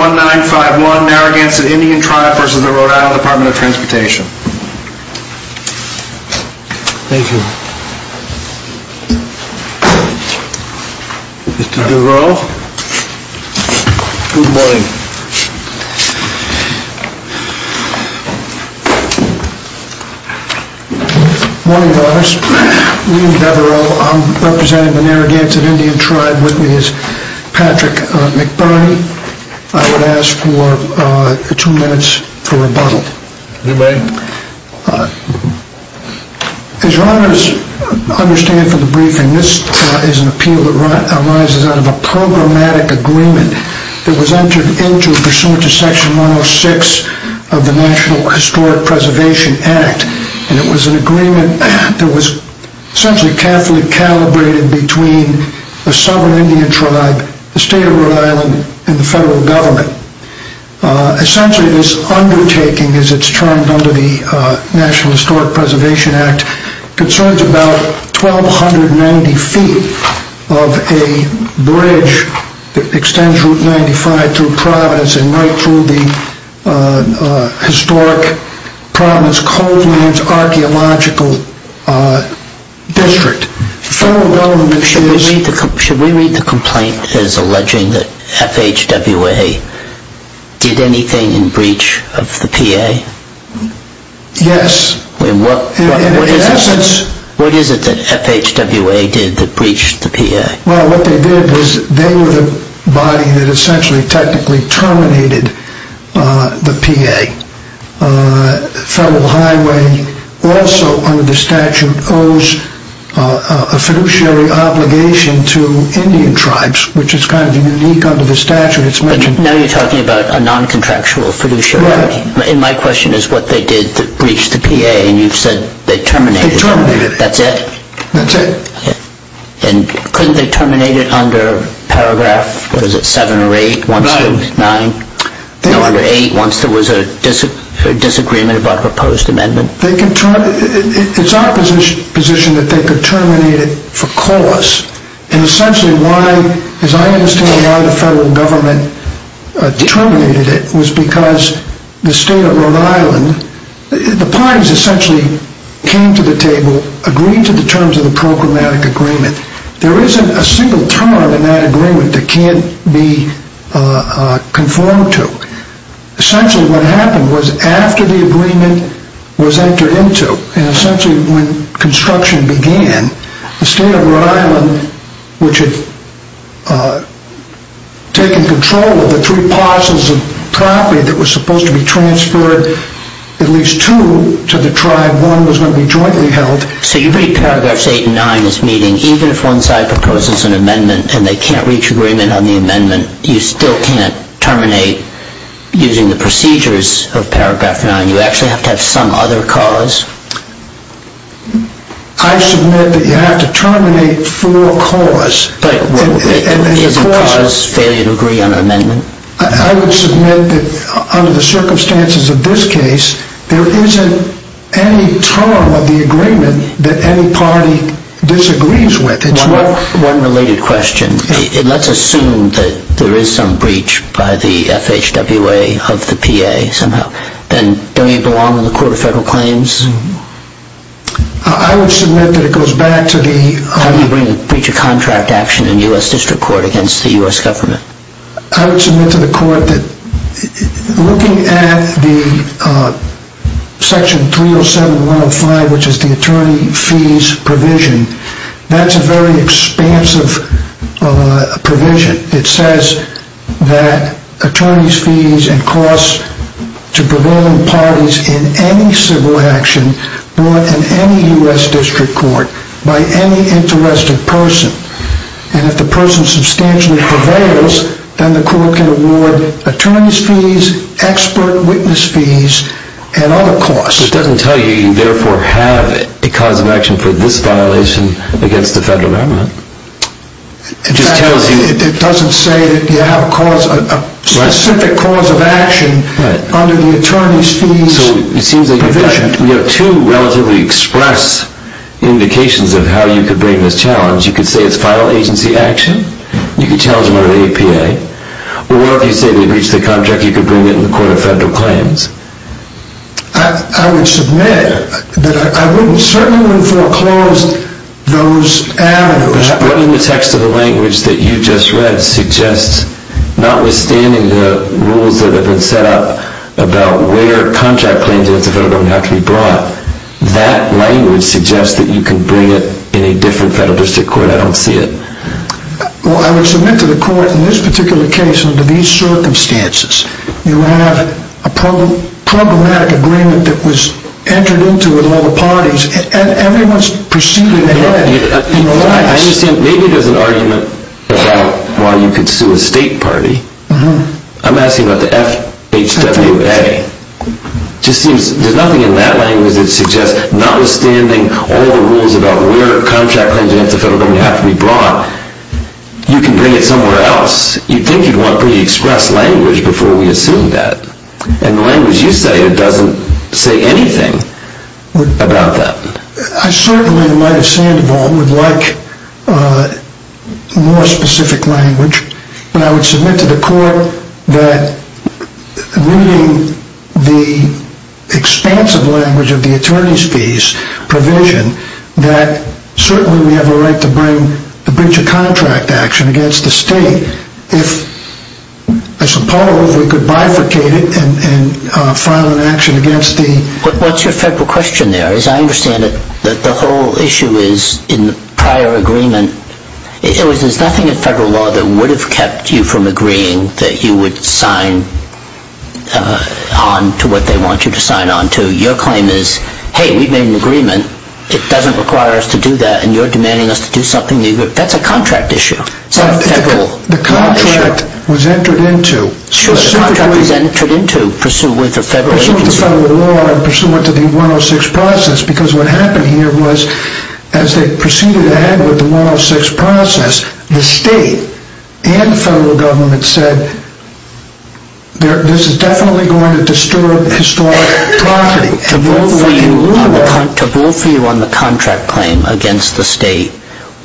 1951 Narragansett Indian Tribe v. The Rhode Island Dept. of Transportation Thank you Mr. Devereaux Good morning Good morning, Your Honors I'm William Devereaux. I'm representing the Narragansett Indian Tribe with me is Patrick McBurney. I would ask for two minutes for rebuttal. You may As Your Honors understand from the briefing, this is an appeal that arises out of a programmatic agreement that was entered into pursuant to Section 106 of the National Historic Preservation Act and it was an agreement that was essentially carefully calibrated between the Southern Indian Tribe, the State of Rhode Island, and the Federal Government. Essentially this undertaking, as it's termed under the National Historic Preservation Act, concerns about 1290 feet of a bridge that extends Route 95 through Providence and right through the Historic Providence Cold Lands Archaeological District. Should we read the complaint as alleging that FHWA did anything in breach of the PA? Yes What is it that FHWA did that breached the PA? Well, what they did was they were the body that essentially technically terminated the PA. Federal Highway also under the statute owes a fiduciary obligation to Indian Tribes, which is kind of unique under the statute. Now you're talking about a non-contractual fiduciary. Yes And my question is what they did to breach the PA and you've said they terminated it. They terminated it. That's it? That's it. And couldn't they terminate it under paragraph, what is it, seven or eight? Nine No, under eight once there was a disagreement about a proposed amendment. It's our position that they could terminate it for cause. And essentially why, as I understand why the Federal Government terminated it, was because the State of Rhode Island, the parties essentially came to the table, agreed to the terms of the programmatic agreement. There isn't a single term in that agreement that can't be conformed to. Essentially what happened was after the agreement was entered into, and essentially when construction began, the State of Rhode Island, which had taken control of the three parcels of property that was supposed to be transferred at least two to the tribe, one was going to be jointly held. So you read paragraphs eight and nine in this meeting, even if one side proposes an amendment and they can't reach agreement on the amendment, you still can't terminate using the procedures of paragraph nine. You actually have to have some other cause. I submit that you have to terminate for a cause. Is a cause failure to agree on an amendment? I would submit that under the circumstances of this case, there isn't any term of the agreement that any party disagrees with. One related question. Let's assume that there is some breach by the FHWA of the PA somehow. Then don't you belong in the Court of Federal Claims? I would submit that it goes back to the— How do you bring a breach of contract action in U.S. District Court against the U.S. Government? I would submit to the court that looking at the section 307.105, which is the attorney fees provision, that's a very expansive provision. It says that attorneys' fees and costs to prevailing parties in any civil action brought in any U.S. District Court by any interested person. And if the person substantially prevails, then the court can award attorneys' fees, expert witness fees, and other costs. It doesn't tell you you therefore have a cause of action for this violation against the federal government. In fact, it doesn't say that you have a specific cause of action under the attorneys' fees provision. So it seems that you have two relatively express indications of how you could bring this challenge. You could say it's file agency action. You could challenge them under the APA. Or if you say they breached the contract, you could bring it in the Court of Federal Claims. I would submit that I wouldn't certainly foreclose those avenues. But what in the text of the language that you just read suggests, notwithstanding the rules that have been set up about where contract claims against the federal government have to be brought, that language suggests that you can bring it in a different federal district court. I don't see it. Well, I would submit to the court in this particular case, under these circumstances, you have a problematic agreement that was entered into with all the parties, and everyone's proceeding ahead in their lives. I understand. Maybe there's an argument about why you could sue a state party. I'm asking about the FHWA. It just seems there's nothing in that language that suggests, notwithstanding all the rules about where contract claims against the federal government have to be brought, you can bring it somewhere else. You'd think you'd want pretty express language before we assume that. And the language you say doesn't say anything about that. I certainly, in light of Sandoval, would like more specific language. But I would submit to the court that reading the expansive language of the attorney's fees provision, that certainly we have a right to bring a breach of contract action against the state if, I suppose, we could bifurcate it and file an action against the… What's your federal question there? As I understand it, the whole issue is, in the prior agreement, there's nothing in federal law that would have kept you from agreeing that you would sign on to what they want you to sign on to. Your claim is, hey, we've made an agreement. It doesn't require us to do that, and you're demanding us to do something new. That's a contract issue. The contract was entered into. Sure, the contract was entered into pursuant to federal law and pursuant to the 106 process because what happened here was, as they proceeded ahead with the 106 process, the state and the federal government said, this is definitely going to disturb historic property. To vote for you on the contract claim against the state,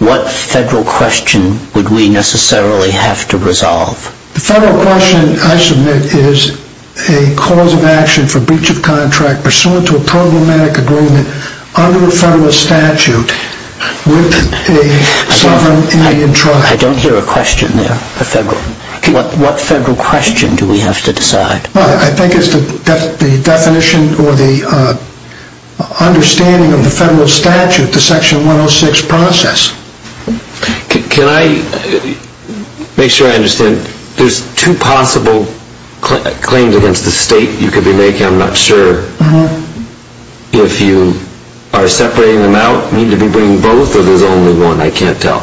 what federal question would we necessarily have to resolve? The federal question I submit is a cause of action for breach of contract pursuant to a problematic agreement under a federal statute with a sovereign Indian trust. I don't hear a question there. What federal question do we have to decide? I think it's the definition or the understanding of the federal statute, the section 106 process. Can I make sure I understand? There's two possible claims against the state you could be making. I'm not sure if you are separating them out, need to be bringing both, or there's only one. I can't tell.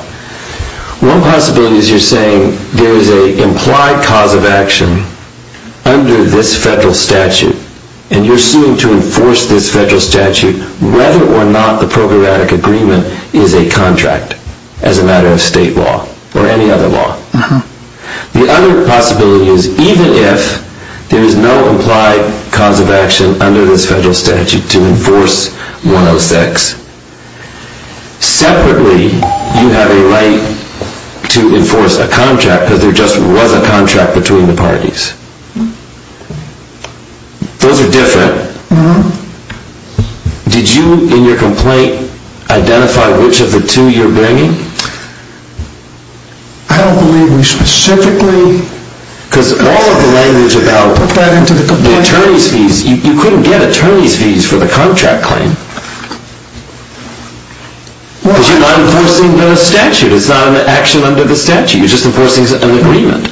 One possibility is you're saying there is an implied cause of action under this federal statute, and you're suing to enforce this federal statute whether or not the programmatic agreement is a contract as a matter of state law or any other law. The other possibility is even if there is no implied cause of action under this federal statute to enforce 106, separately you have a right to enforce a contract because there just was a contract between the parties. Those are different. Did you in your complaint identify which of the two you're bringing? I don't believe we specifically put that into the complaint. You couldn't get attorney's fees for the contract claim because you're not enforcing the statute. It's not an action under the statute. You're just enforcing an agreement.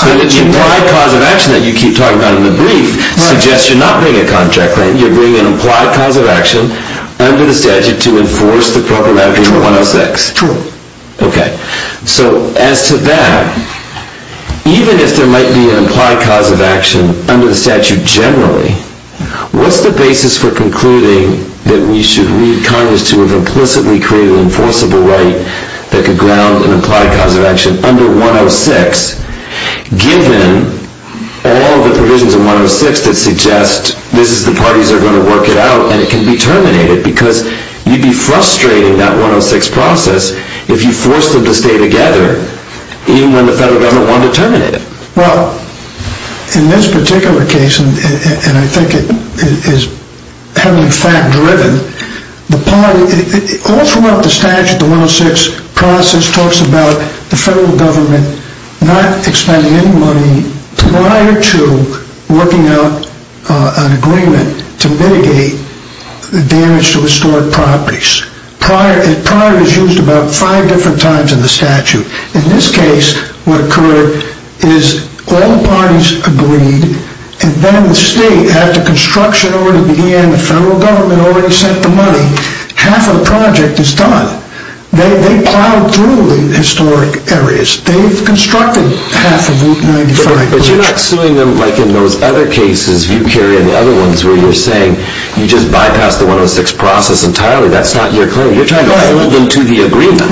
The implied cause of action that you keep talking about in the brief suggests you're not bringing a contract claim. You're bringing an implied cause of action under the statute to enforce the programmatic agreement 106. True. As to that, even if there might be an implied cause of action under the statute generally, what's the basis for concluding that we should read Congress to have implicitly created an enforceable right that could ground an implied cause of action under 106, given all the provisions in 106 that suggest this is the parties that are going to work it out and it can be terminated because you'd be frustrating that 106 process if you forced them to stay together even when the federal government wanted to terminate it. Well, in this particular case, and I think it is heavily fact-driven, all throughout the statute, the 106 process talks about the federal government not expending any money prior to working out an agreement to mitigate the damage to historic properties. Prior is used about five different times in the statute. In this case, what occurred is all the parties agreed, and then the state, after construction already began, the federal government already sent the money, half of the project is done. They plowed through the historic areas. They've constructed half of Route 95. But you're not suing them like in those other cases you carry, and the other ones where you're saying you just bypassed the 106 process entirely. That's not your claim. You're trying to hold them to the agreement.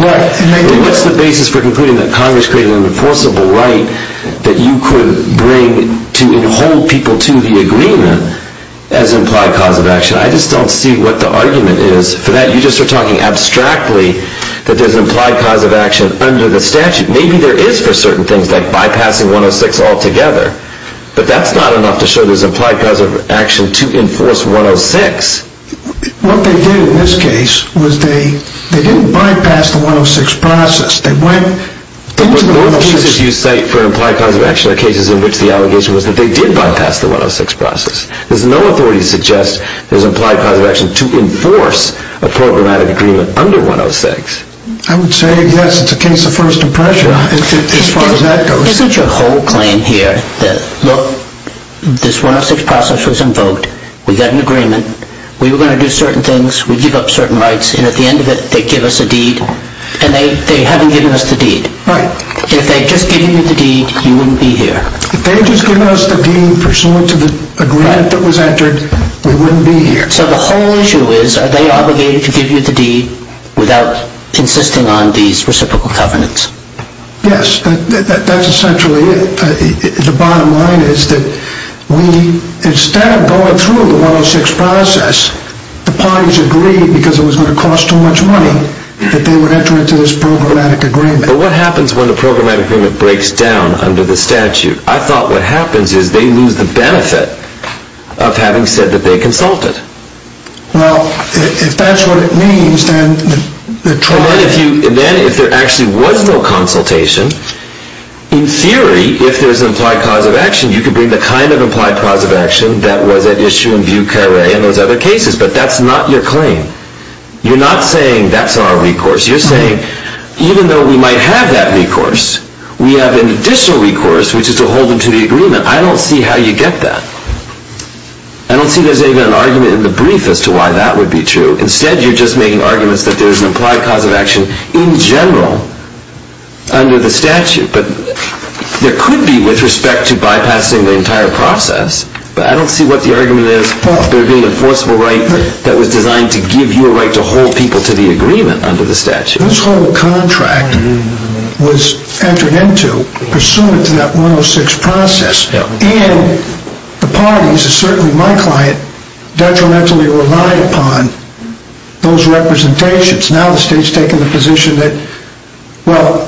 What's the basis for concluding that Congress created an enforceable right that you could bring to hold people to the agreement as implied cause of action? I just don't see what the argument is for that. You just are talking abstractly that there's an implied cause of action under the statute. Maybe there is for certain things like bypassing 106 altogether, but that's not enough to show there's implied cause of action to enforce 106. What they did in this case was they didn't bypass the 106 process. They went into the 106 process. But what most cases you cite for implied cause of action are cases in which the allegation was that they did bypass the 106 process. There's no authority to suggest there's implied cause of action to enforce a programmatic agreement under 106. I would say, yes, it's a case of first impression as far as that goes. There's such a whole claim here that, look, this 106 process was invoked. We got an agreement. We were going to do certain things. We give up certain rights, and at the end of it, they give us a deed, and they haven't given us the deed. Right. If they had just given you the deed, you wouldn't be here. If they had just given us the deed pursuant to the grant that was entered, we wouldn't be here. So the whole issue is are they obligated to give you the deed without insisting on these reciprocal covenants? Yes, that's essentially it. The bottom line is that we, instead of going through the 106 process, the parties agreed because it was going to cost too much money that they would enter into this programmatic agreement. But what happens when the programmatic agreement breaks down under the statute? I thought what happens is they lose the benefit of having said that they consulted. Well, if that's what it means, then the trial... Then if there actually was no consultation, in theory, if there's an implied cause of action, you could bring the kind of implied cause of action that was at issue in Vieux Carre and those other cases, but that's not your claim. You're not saying that's our recourse. You're saying even though we might have that recourse, we have an additional recourse, which is to hold them to the agreement. I don't see how you get that. I don't see there's even an argument in the brief as to why that would be true. Instead, you're just making arguments that there's an implied cause of action in general under the statute. But there could be with respect to bypassing the entire process, but I don't see what the argument is for there being an enforceable right that was designed to give you a right to hold people to the agreement under the statute. This whole contract was entered into pursuant to that 106 process, and the parties, and certainly my client, detrimentally relied upon those representations. Now the state's taken the position that, well,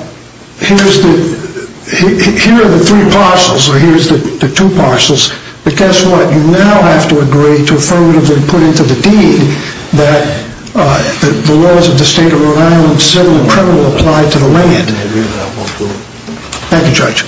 here are the three parcels, or here are the two parcels, but guess what, you now have to agree to affirmatively put into the deed that the laws of the state of Rhode Island, civil and criminal, apply to the land. Thank you, Judge.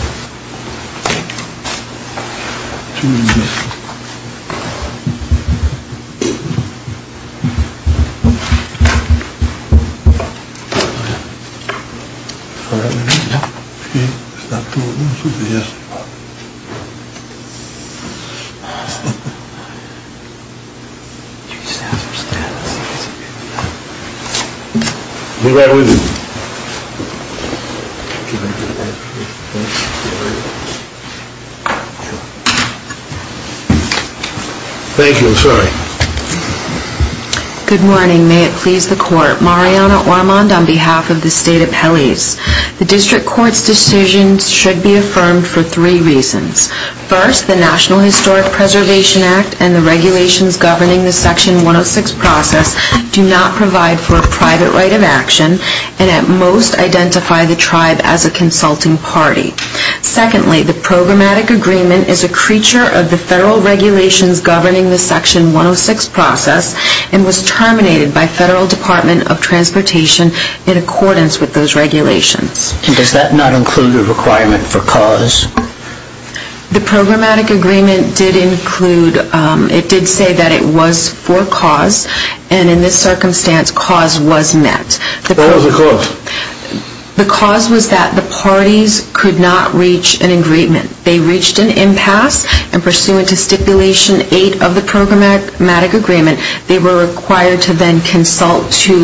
Thank you, I'm sorry. Good morning, may it please the court. Mariana Ormond on behalf of the state of Helles. The district court's decision should be affirmed for three reasons. First, the National Historic Preservation Act and the regulations governing the section 106 process do not provide for a private right of action, and at most identify the tribe as a consulting party. Secondly, the programmatic agreement is a creature of the federal regulations governing the section 106 process and was terminated by Federal Department of Transportation in accordance with those regulations. And does that not include a requirement for cause? The programmatic agreement did include, it did say that it was for cause, and in this circumstance, cause was met. What was the cause? The cause was that the parties could not reach an agreement. They reached an impasse, and pursuant to stipulation eight of the programmatic agreement, they were required to then consult to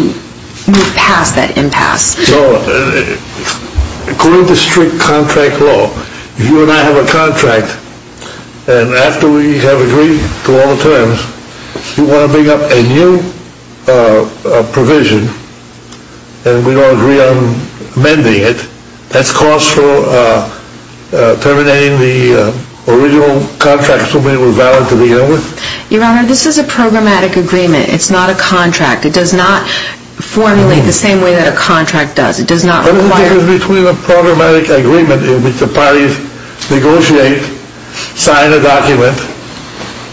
move past that impasse. So, according to strict contract law, you and I have a contract, and after we have agreed to all the terms, you want to bring up a new provision, and we don't agree on amending it, that's cause for terminating the original contract so that it was valid to begin with? Your Honor, this is a programmatic agreement. It's not a contract. It does not formulate the same way that a contract does. What is the difference between a programmatic agreement in which the parties negotiate, sign a document,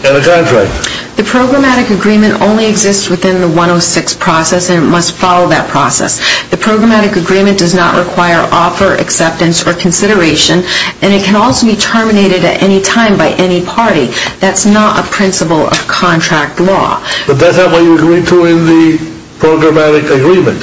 and a contract? The programmatic agreement only exists within the 106 process, and it must follow that process. The programmatic agreement does not require offer, acceptance, or consideration, and it can also be terminated at any time by any party. That's not a principle of contract law. But that's not what you agree to in the programmatic agreement.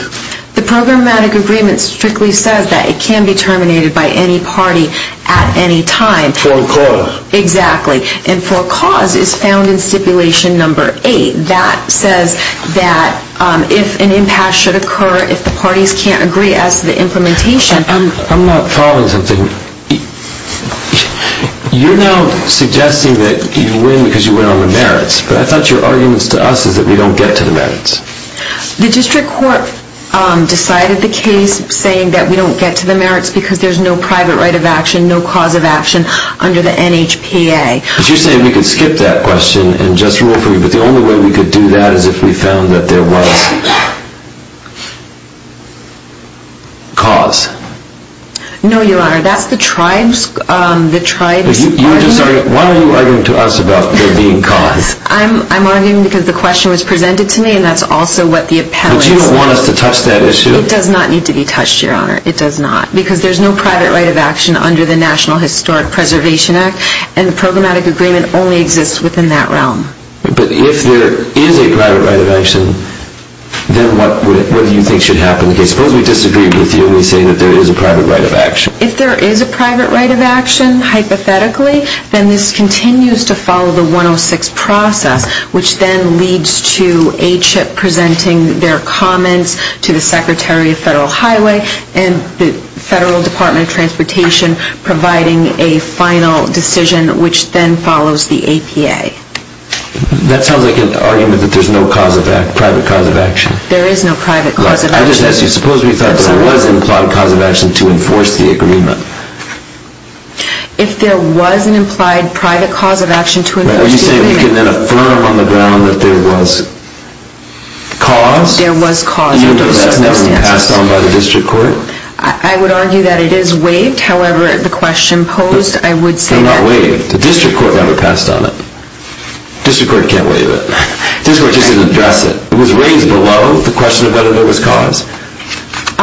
The programmatic agreement strictly says that it can be terminated by any party at any time. For a cause. Exactly. And for a cause is found in stipulation number eight. That says that if an impasse should occur, if the parties can't agree as to the implementation... I'm not following something. You're now suggesting that you win because you went on the merits, but I thought your argument to us is that we don't get to the merits. The district court decided the case saying that we don't get to the merits because there's no private right of action, no cause of action under the NHPA. But you're saying we could skip that question and just rule for you, but the only way we could do that is if we found that there was... cause. No, Your Honor, that's the tribe's argument. Why are you arguing to us about there being cause? I'm arguing because the question was presented to me and that's also what the appellant... But you don't want us to touch that issue. It does not need to be touched, Your Honor. It does not. Because there's no private right of action under the National Historic Preservation Act and the programmatic agreement only exists within that realm. But if there is a private right of action, then what do you think should happen in the case? Suppose we disagree with you and we say that there is a private right of action. If there is a private right of action, hypothetically, then this continues to follow the 106 process, which then leads to HIP presenting their comments to the Secretary of Federal Highway and the Federal Department of Transportation providing a final decision, which then follows the APA. That sounds like an argument that there's no private cause of action. There is no private cause of action. I just ask you, suppose we thought there was an implied cause of action to enforce the agreement. If there was an implied private cause of action to enforce the agreement... Are you saying we can then affirm on the ground that there was cause? There was cause under those circumstances. Do you know that's never been passed on by the district court? I would argue that it is waived. However, the question posed, I would say that... It's not waived. The district court never passed on it. The district court can't waive it. The district court just didn't address it. It was raised below the question of whether there was cause.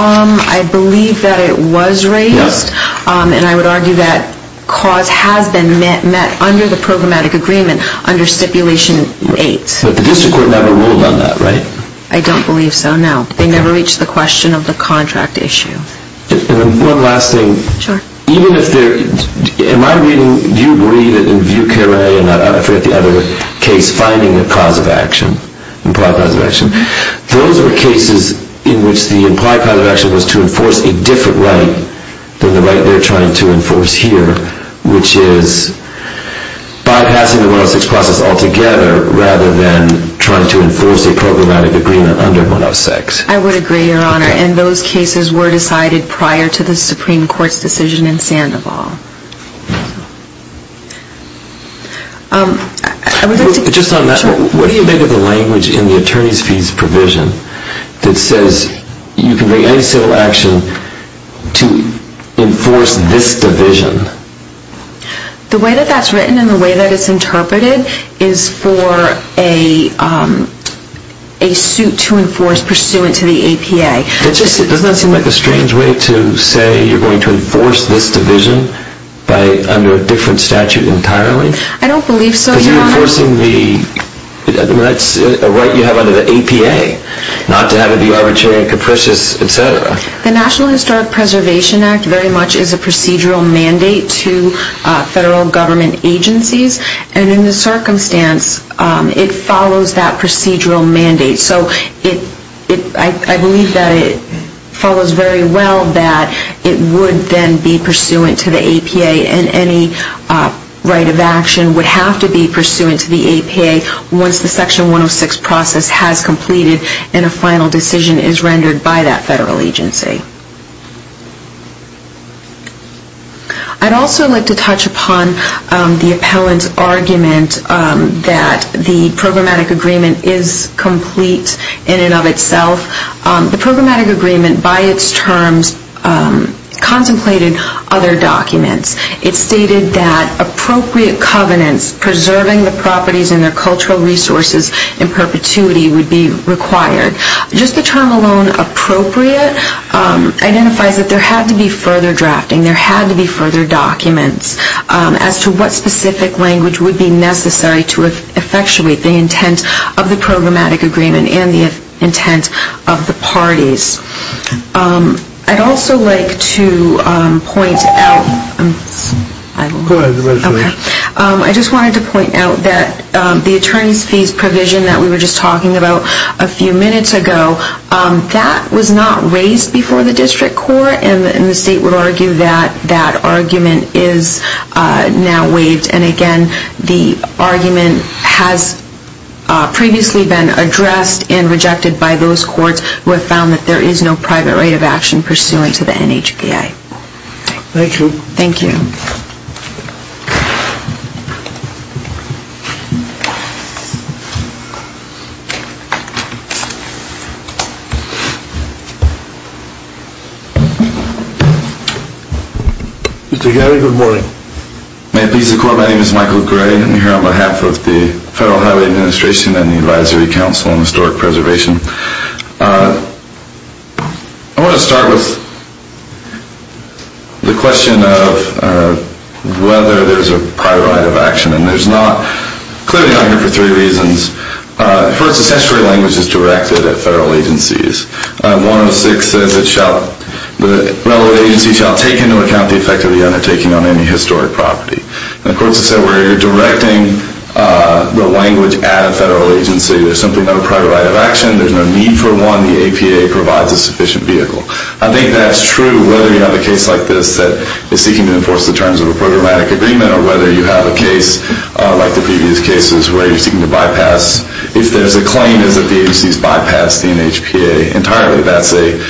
I believe that it was raised, and I would argue that cause has been met under the programmatic agreement under Stipulation 8. But the district court never ruled on that, right? I don't believe so, no. They never reached the question of the contract issue. And one last thing. Sure. Even if there... Am I reading... Do you believe that in Vieux Carre and I forget the other case, finding a cause of action, implied cause of action, those are cases in which the implied cause of action was to enforce a different right than the right they're trying to enforce here, which is bypassing the 106 process altogether rather than trying to enforce a programmatic agreement under 106. I would agree, Your Honor. And those cases were decided prior to the Supreme Court's decision in Sandoval. Just on that, what do you make of the language in the attorney's fees provision that says you can make any civil action to enforce this division? The way that that's written and the way that it's interpreted is for a suit to enforce pursuant to the APA. Doesn't that seem like a strange way to say you're going to enforce this division under a different statute entirely? I don't believe so, Your Honor. Because you're enforcing the rights you have under the APA, not to have it be arbitrary and capricious, et cetera. The National Historic Preservation Act very much is a procedural mandate to federal government agencies, and in this circumstance it follows that procedural mandate. So I believe that it follows very well that it would then be pursuant to the APA and any right of action would have to be pursuant to the APA once the Section 106 process has completed and a final decision is rendered by that federal agency. I'd also like to touch upon the appellant's argument that the programmatic agreement is complete in and of itself. The programmatic agreement by its terms contemplated other documents. It stated that appropriate covenants preserving the properties and their cultural resources in perpetuity would be required. Just the term alone, appropriate, identifies that there had to be further drafting, there had to be further documents as to what specific language would be necessary to effectuate the intent of the programmatic agreement and the intent of the parties. I'd also like to point out that the attorney's fees provision that we were just talking about a few minutes ago, that was not raised before the district court and the state would argue that that argument is now waived. And again, the argument has previously been addressed and rejected by those courts who have found that there is no private right of action pursuant to the NHPA. Thank you. Thank you. Mr. Geary, good morning. May it please the court, my name is Michael Gray. I'm here on behalf of the Federal Highway Administration and the Advisory Council on Historic Preservation. I want to start with the question of whether there's a private right of action. And there's not, clearly not here for three reasons. First, the statutory language is directed at federal agencies. 106 says that the relevant agency shall take into account the effect of the undertaking on any historic property. And the courts have said, where you're directing the language at a federal agency, there's simply no private right of action, there's no need for one, the APA provides a sufficient vehicle. I think that's true whether you have a case like this that is seeking to enforce the terms of a programmatic agreement or whether you have a case like the previous cases where you're seeking to bypass, if there's a claim that the agency's bypassed the NHPA entirely, that's a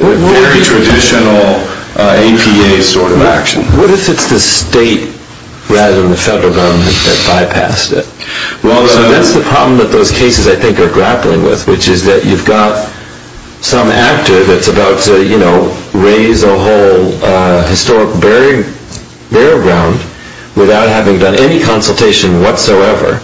very traditional APA sort of action. What if it's the state rather than the federal government that bypassed it? So that's the problem that those cases I think are grappling with, which is that you've got some actor that's about to, you know, raise a whole historic burial ground without having done any consultation whatsoever.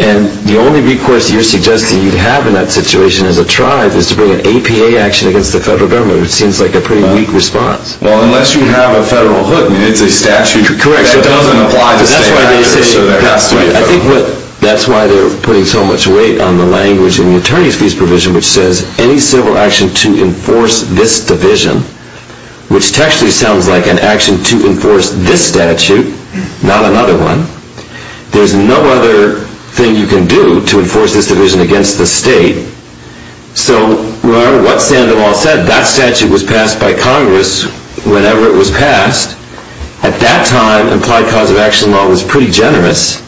And the only recourse you're suggesting you have in that situation as a tribe is to bring an APA action against the federal government, which seems like a pretty weak response. Well, unless you have a federal hood, I mean, it's a statute. Correct. That doesn't apply to state action. I think that's why they're putting so much weight on the language in the attorney's fees provision which says, any civil action to enforce this division, which actually sounds like an action to enforce this statute, not another one, there's no other thing you can do to enforce this division against the state. So no matter what Sandoval said, that statute was passed by Congress whenever it was passed. At that time, implied cause of action law was pretty generous,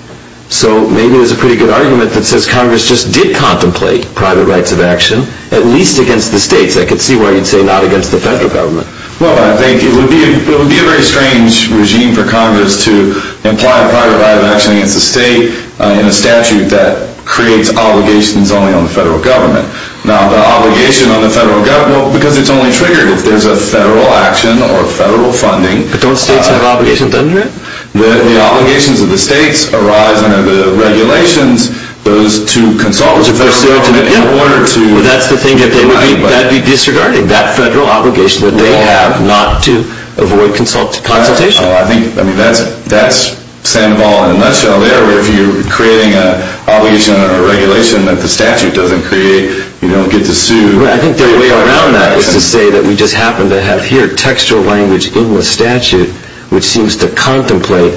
so maybe there's a pretty good argument that says Congress just did contemplate private rights of action, at least against the states. I could see why you'd say not against the federal government. Well, I think it would be a very strange regime for Congress to imply a private right of action against the state in a statute that creates obligations only on the federal government. Now, the obligation on the federal government, because it's only triggered if there's a federal action or federal funding. But don't states have obligations under it? The obligations of the states arise under the regulations, those to consult with the federal government in order to... That's the thing, that would be disregarding. That federal obligation that they have not to avoid consultation. I think that's Sandoval in a nutshell there. If you're creating an obligation or a regulation that the statute doesn't create, you don't get to sue. I think the way around that is to say that we just happen to have here textual language in the statute which seems to contemplate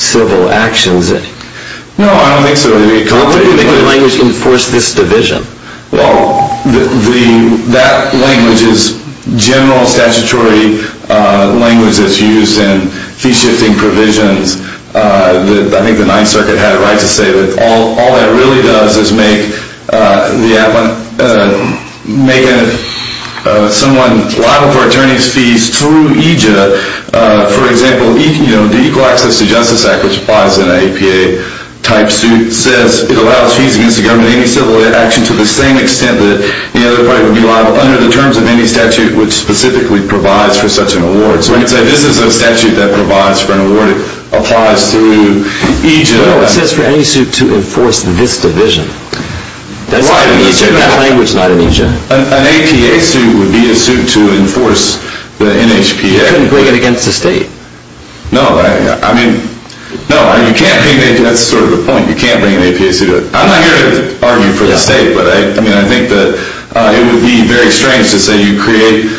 civil actions. No, I don't think so. I think the language enforced this division. Well, that language is general statutory language that's used in fee-shifting provisions. I think the Ninth Circuit had it right to say that all that really does is make someone liable for attorney's fees through EJA. For example, the Equal Access to Justice Act, which applies in an APA-type suit, says it allows fees against the government in any civil action to the same extent that the other party would be liable under the terms of any statute which specifically provides for such an award. So this is a statute that provides for an award. It applies through EJA. No, it says for any suit to enforce this division. You took that language, not an EJA. An APA suit would be a suit to enforce the NHPA. You couldn't bring it against the state. No, you can't bring an APA suit. That's sort of the point. You can't bring an APA suit. I'm not here to argue for the state, but I think that it would be very strange to say that you create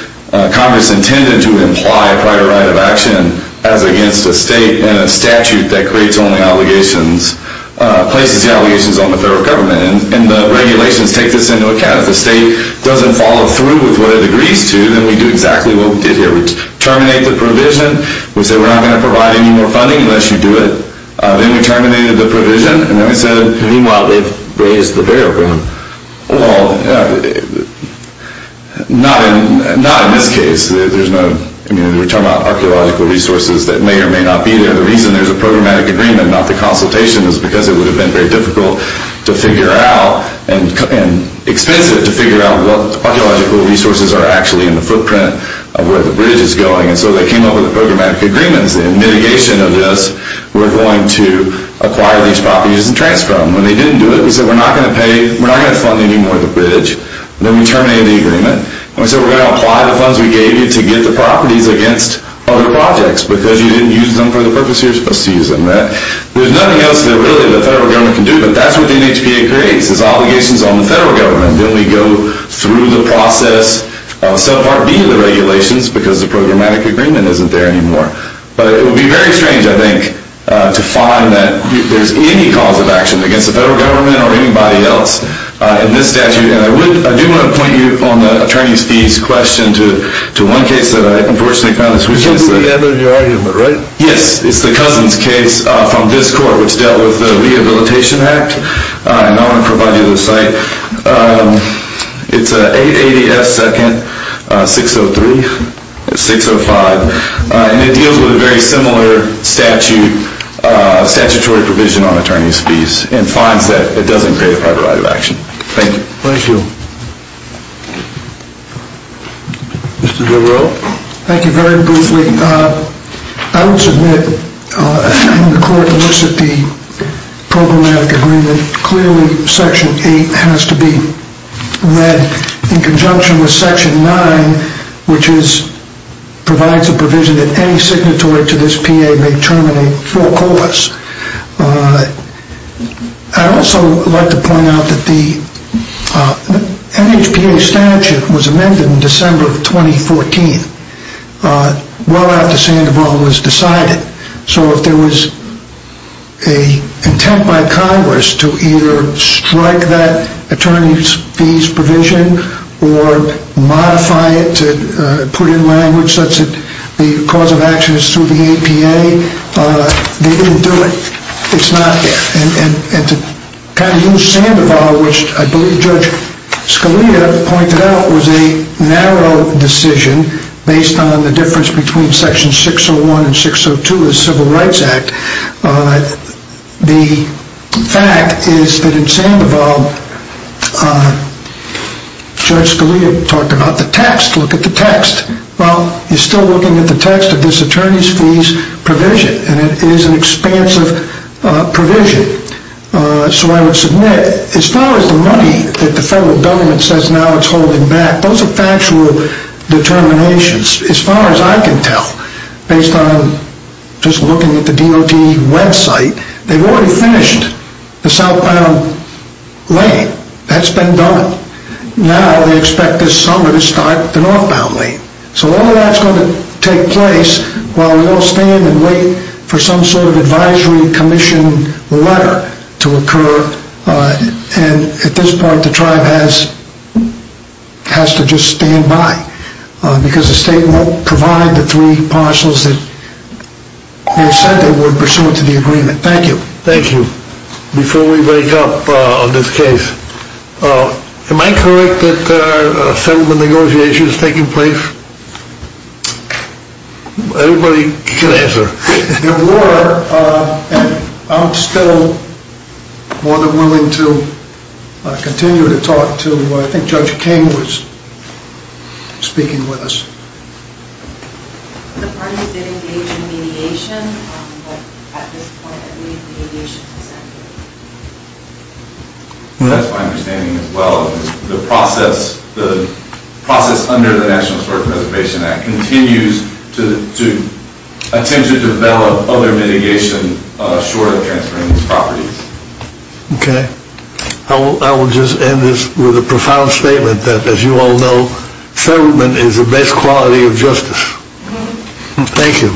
Congress intended to imply prior right of action as against a state, and a statute that places the allegations on the federal government. And the regulations take this into account. If the state doesn't follow through with what it agrees to, then we do exactly what we did here. We terminate the provision. We say we're not going to provide any more funding unless you do it. Then we terminated the provision. And then we said, meanwhile, they've raised the barrier. Well, not in this case. We're talking about archaeological resources that may or may not be there. The reason there's a programmatic agreement, not the consultation, is because it would have been very difficult to figure out and expensive to figure out what archaeological resources are actually in the footprint of where the bridge is going. And so they came up with programmatic agreements. In mitigation of this, we're going to acquire these properties and transfer them. And they didn't do it. We said we're not going to fund any more of the bridge. Then we terminated the agreement. And we said we're going to apply the funds we gave you to get the properties against other projects because you didn't use them for the purpose you were supposed to use them. There's nothing else that really the federal government can do. But that's what the NHPA creates is obligations on the federal government. Then we go through the process of subpart B of the regulations because the programmatic agreement isn't there anymore. But it would be very strange, I think, to find that there's any cause of action against the federal government or anybody else in this statute. And I do want to point you on the attorney's fees question to one case that I unfortunately found this weekend. You can't believe the end of your argument, right? Yes, it's the Cousins case from this court, which dealt with the Rehabilitation Act. And I want to provide you the site. It's 880 F. 2nd, 603, 605. And it deals with a very similar statutory provision on attorney's fees and finds that it doesn't create a prior right of action. Thank you. Thank you. Mr. Devereux? Thank you. Very briefly, I would submit in the court that looks at the programmatic agreement, clearly Section 8 has to be read in conjunction with Section 9, which provides a provision that any signatory to this PA may terminate full cause. I'd also like to point out that the NHPA statute was amended in December of 2014, well after Sandoval was decided. So if there was an intent by Congress to either strike that attorney's fees provision or modify it to put in language such that the cause of action is through the APA, they didn't do it. It's not there. And to kind of use Sandoval, which I believe Judge Scalia pointed out was a narrow decision based on the difference between Section 601 and 602 of the Civil Rights Act, the fact is that in Sandoval, Judge Scalia talked about the text. Look at the text. Well, you're still looking at the text of this attorney's fees provision, and it is an expansive provision. So I would submit as far as the money that the federal government says now it's holding back, those are factual determinations as far as I can tell based on just looking at the DOT website. They've already finished the southbound lane. That's been done. Now they expect this summer to start the northbound lane. So all of that's going to take place while we all stand and wait for some sort of advisory commission letter to occur. And at this point, the tribe has to just stand by because the state won't provide the three parcels that they said they would pursuant to the agreement. Thank you. Thank you. Before we break up on this case, am I correct that settlement negotiations are taking place? Everybody can answer. There were, and I'm still more than willing to continue to talk to, I think Judge King was speaking with us. The parties did engage in mediation, but at this point, I believe the mediation has ended. That's my understanding as well. The process under the National Historic Preservation Act continues to attempt to develop other mitigation short of transferring these properties. Okay. I will just end this with a profound statement that, as you all know, settlement is the best quality of justice. Thank you. Thank you.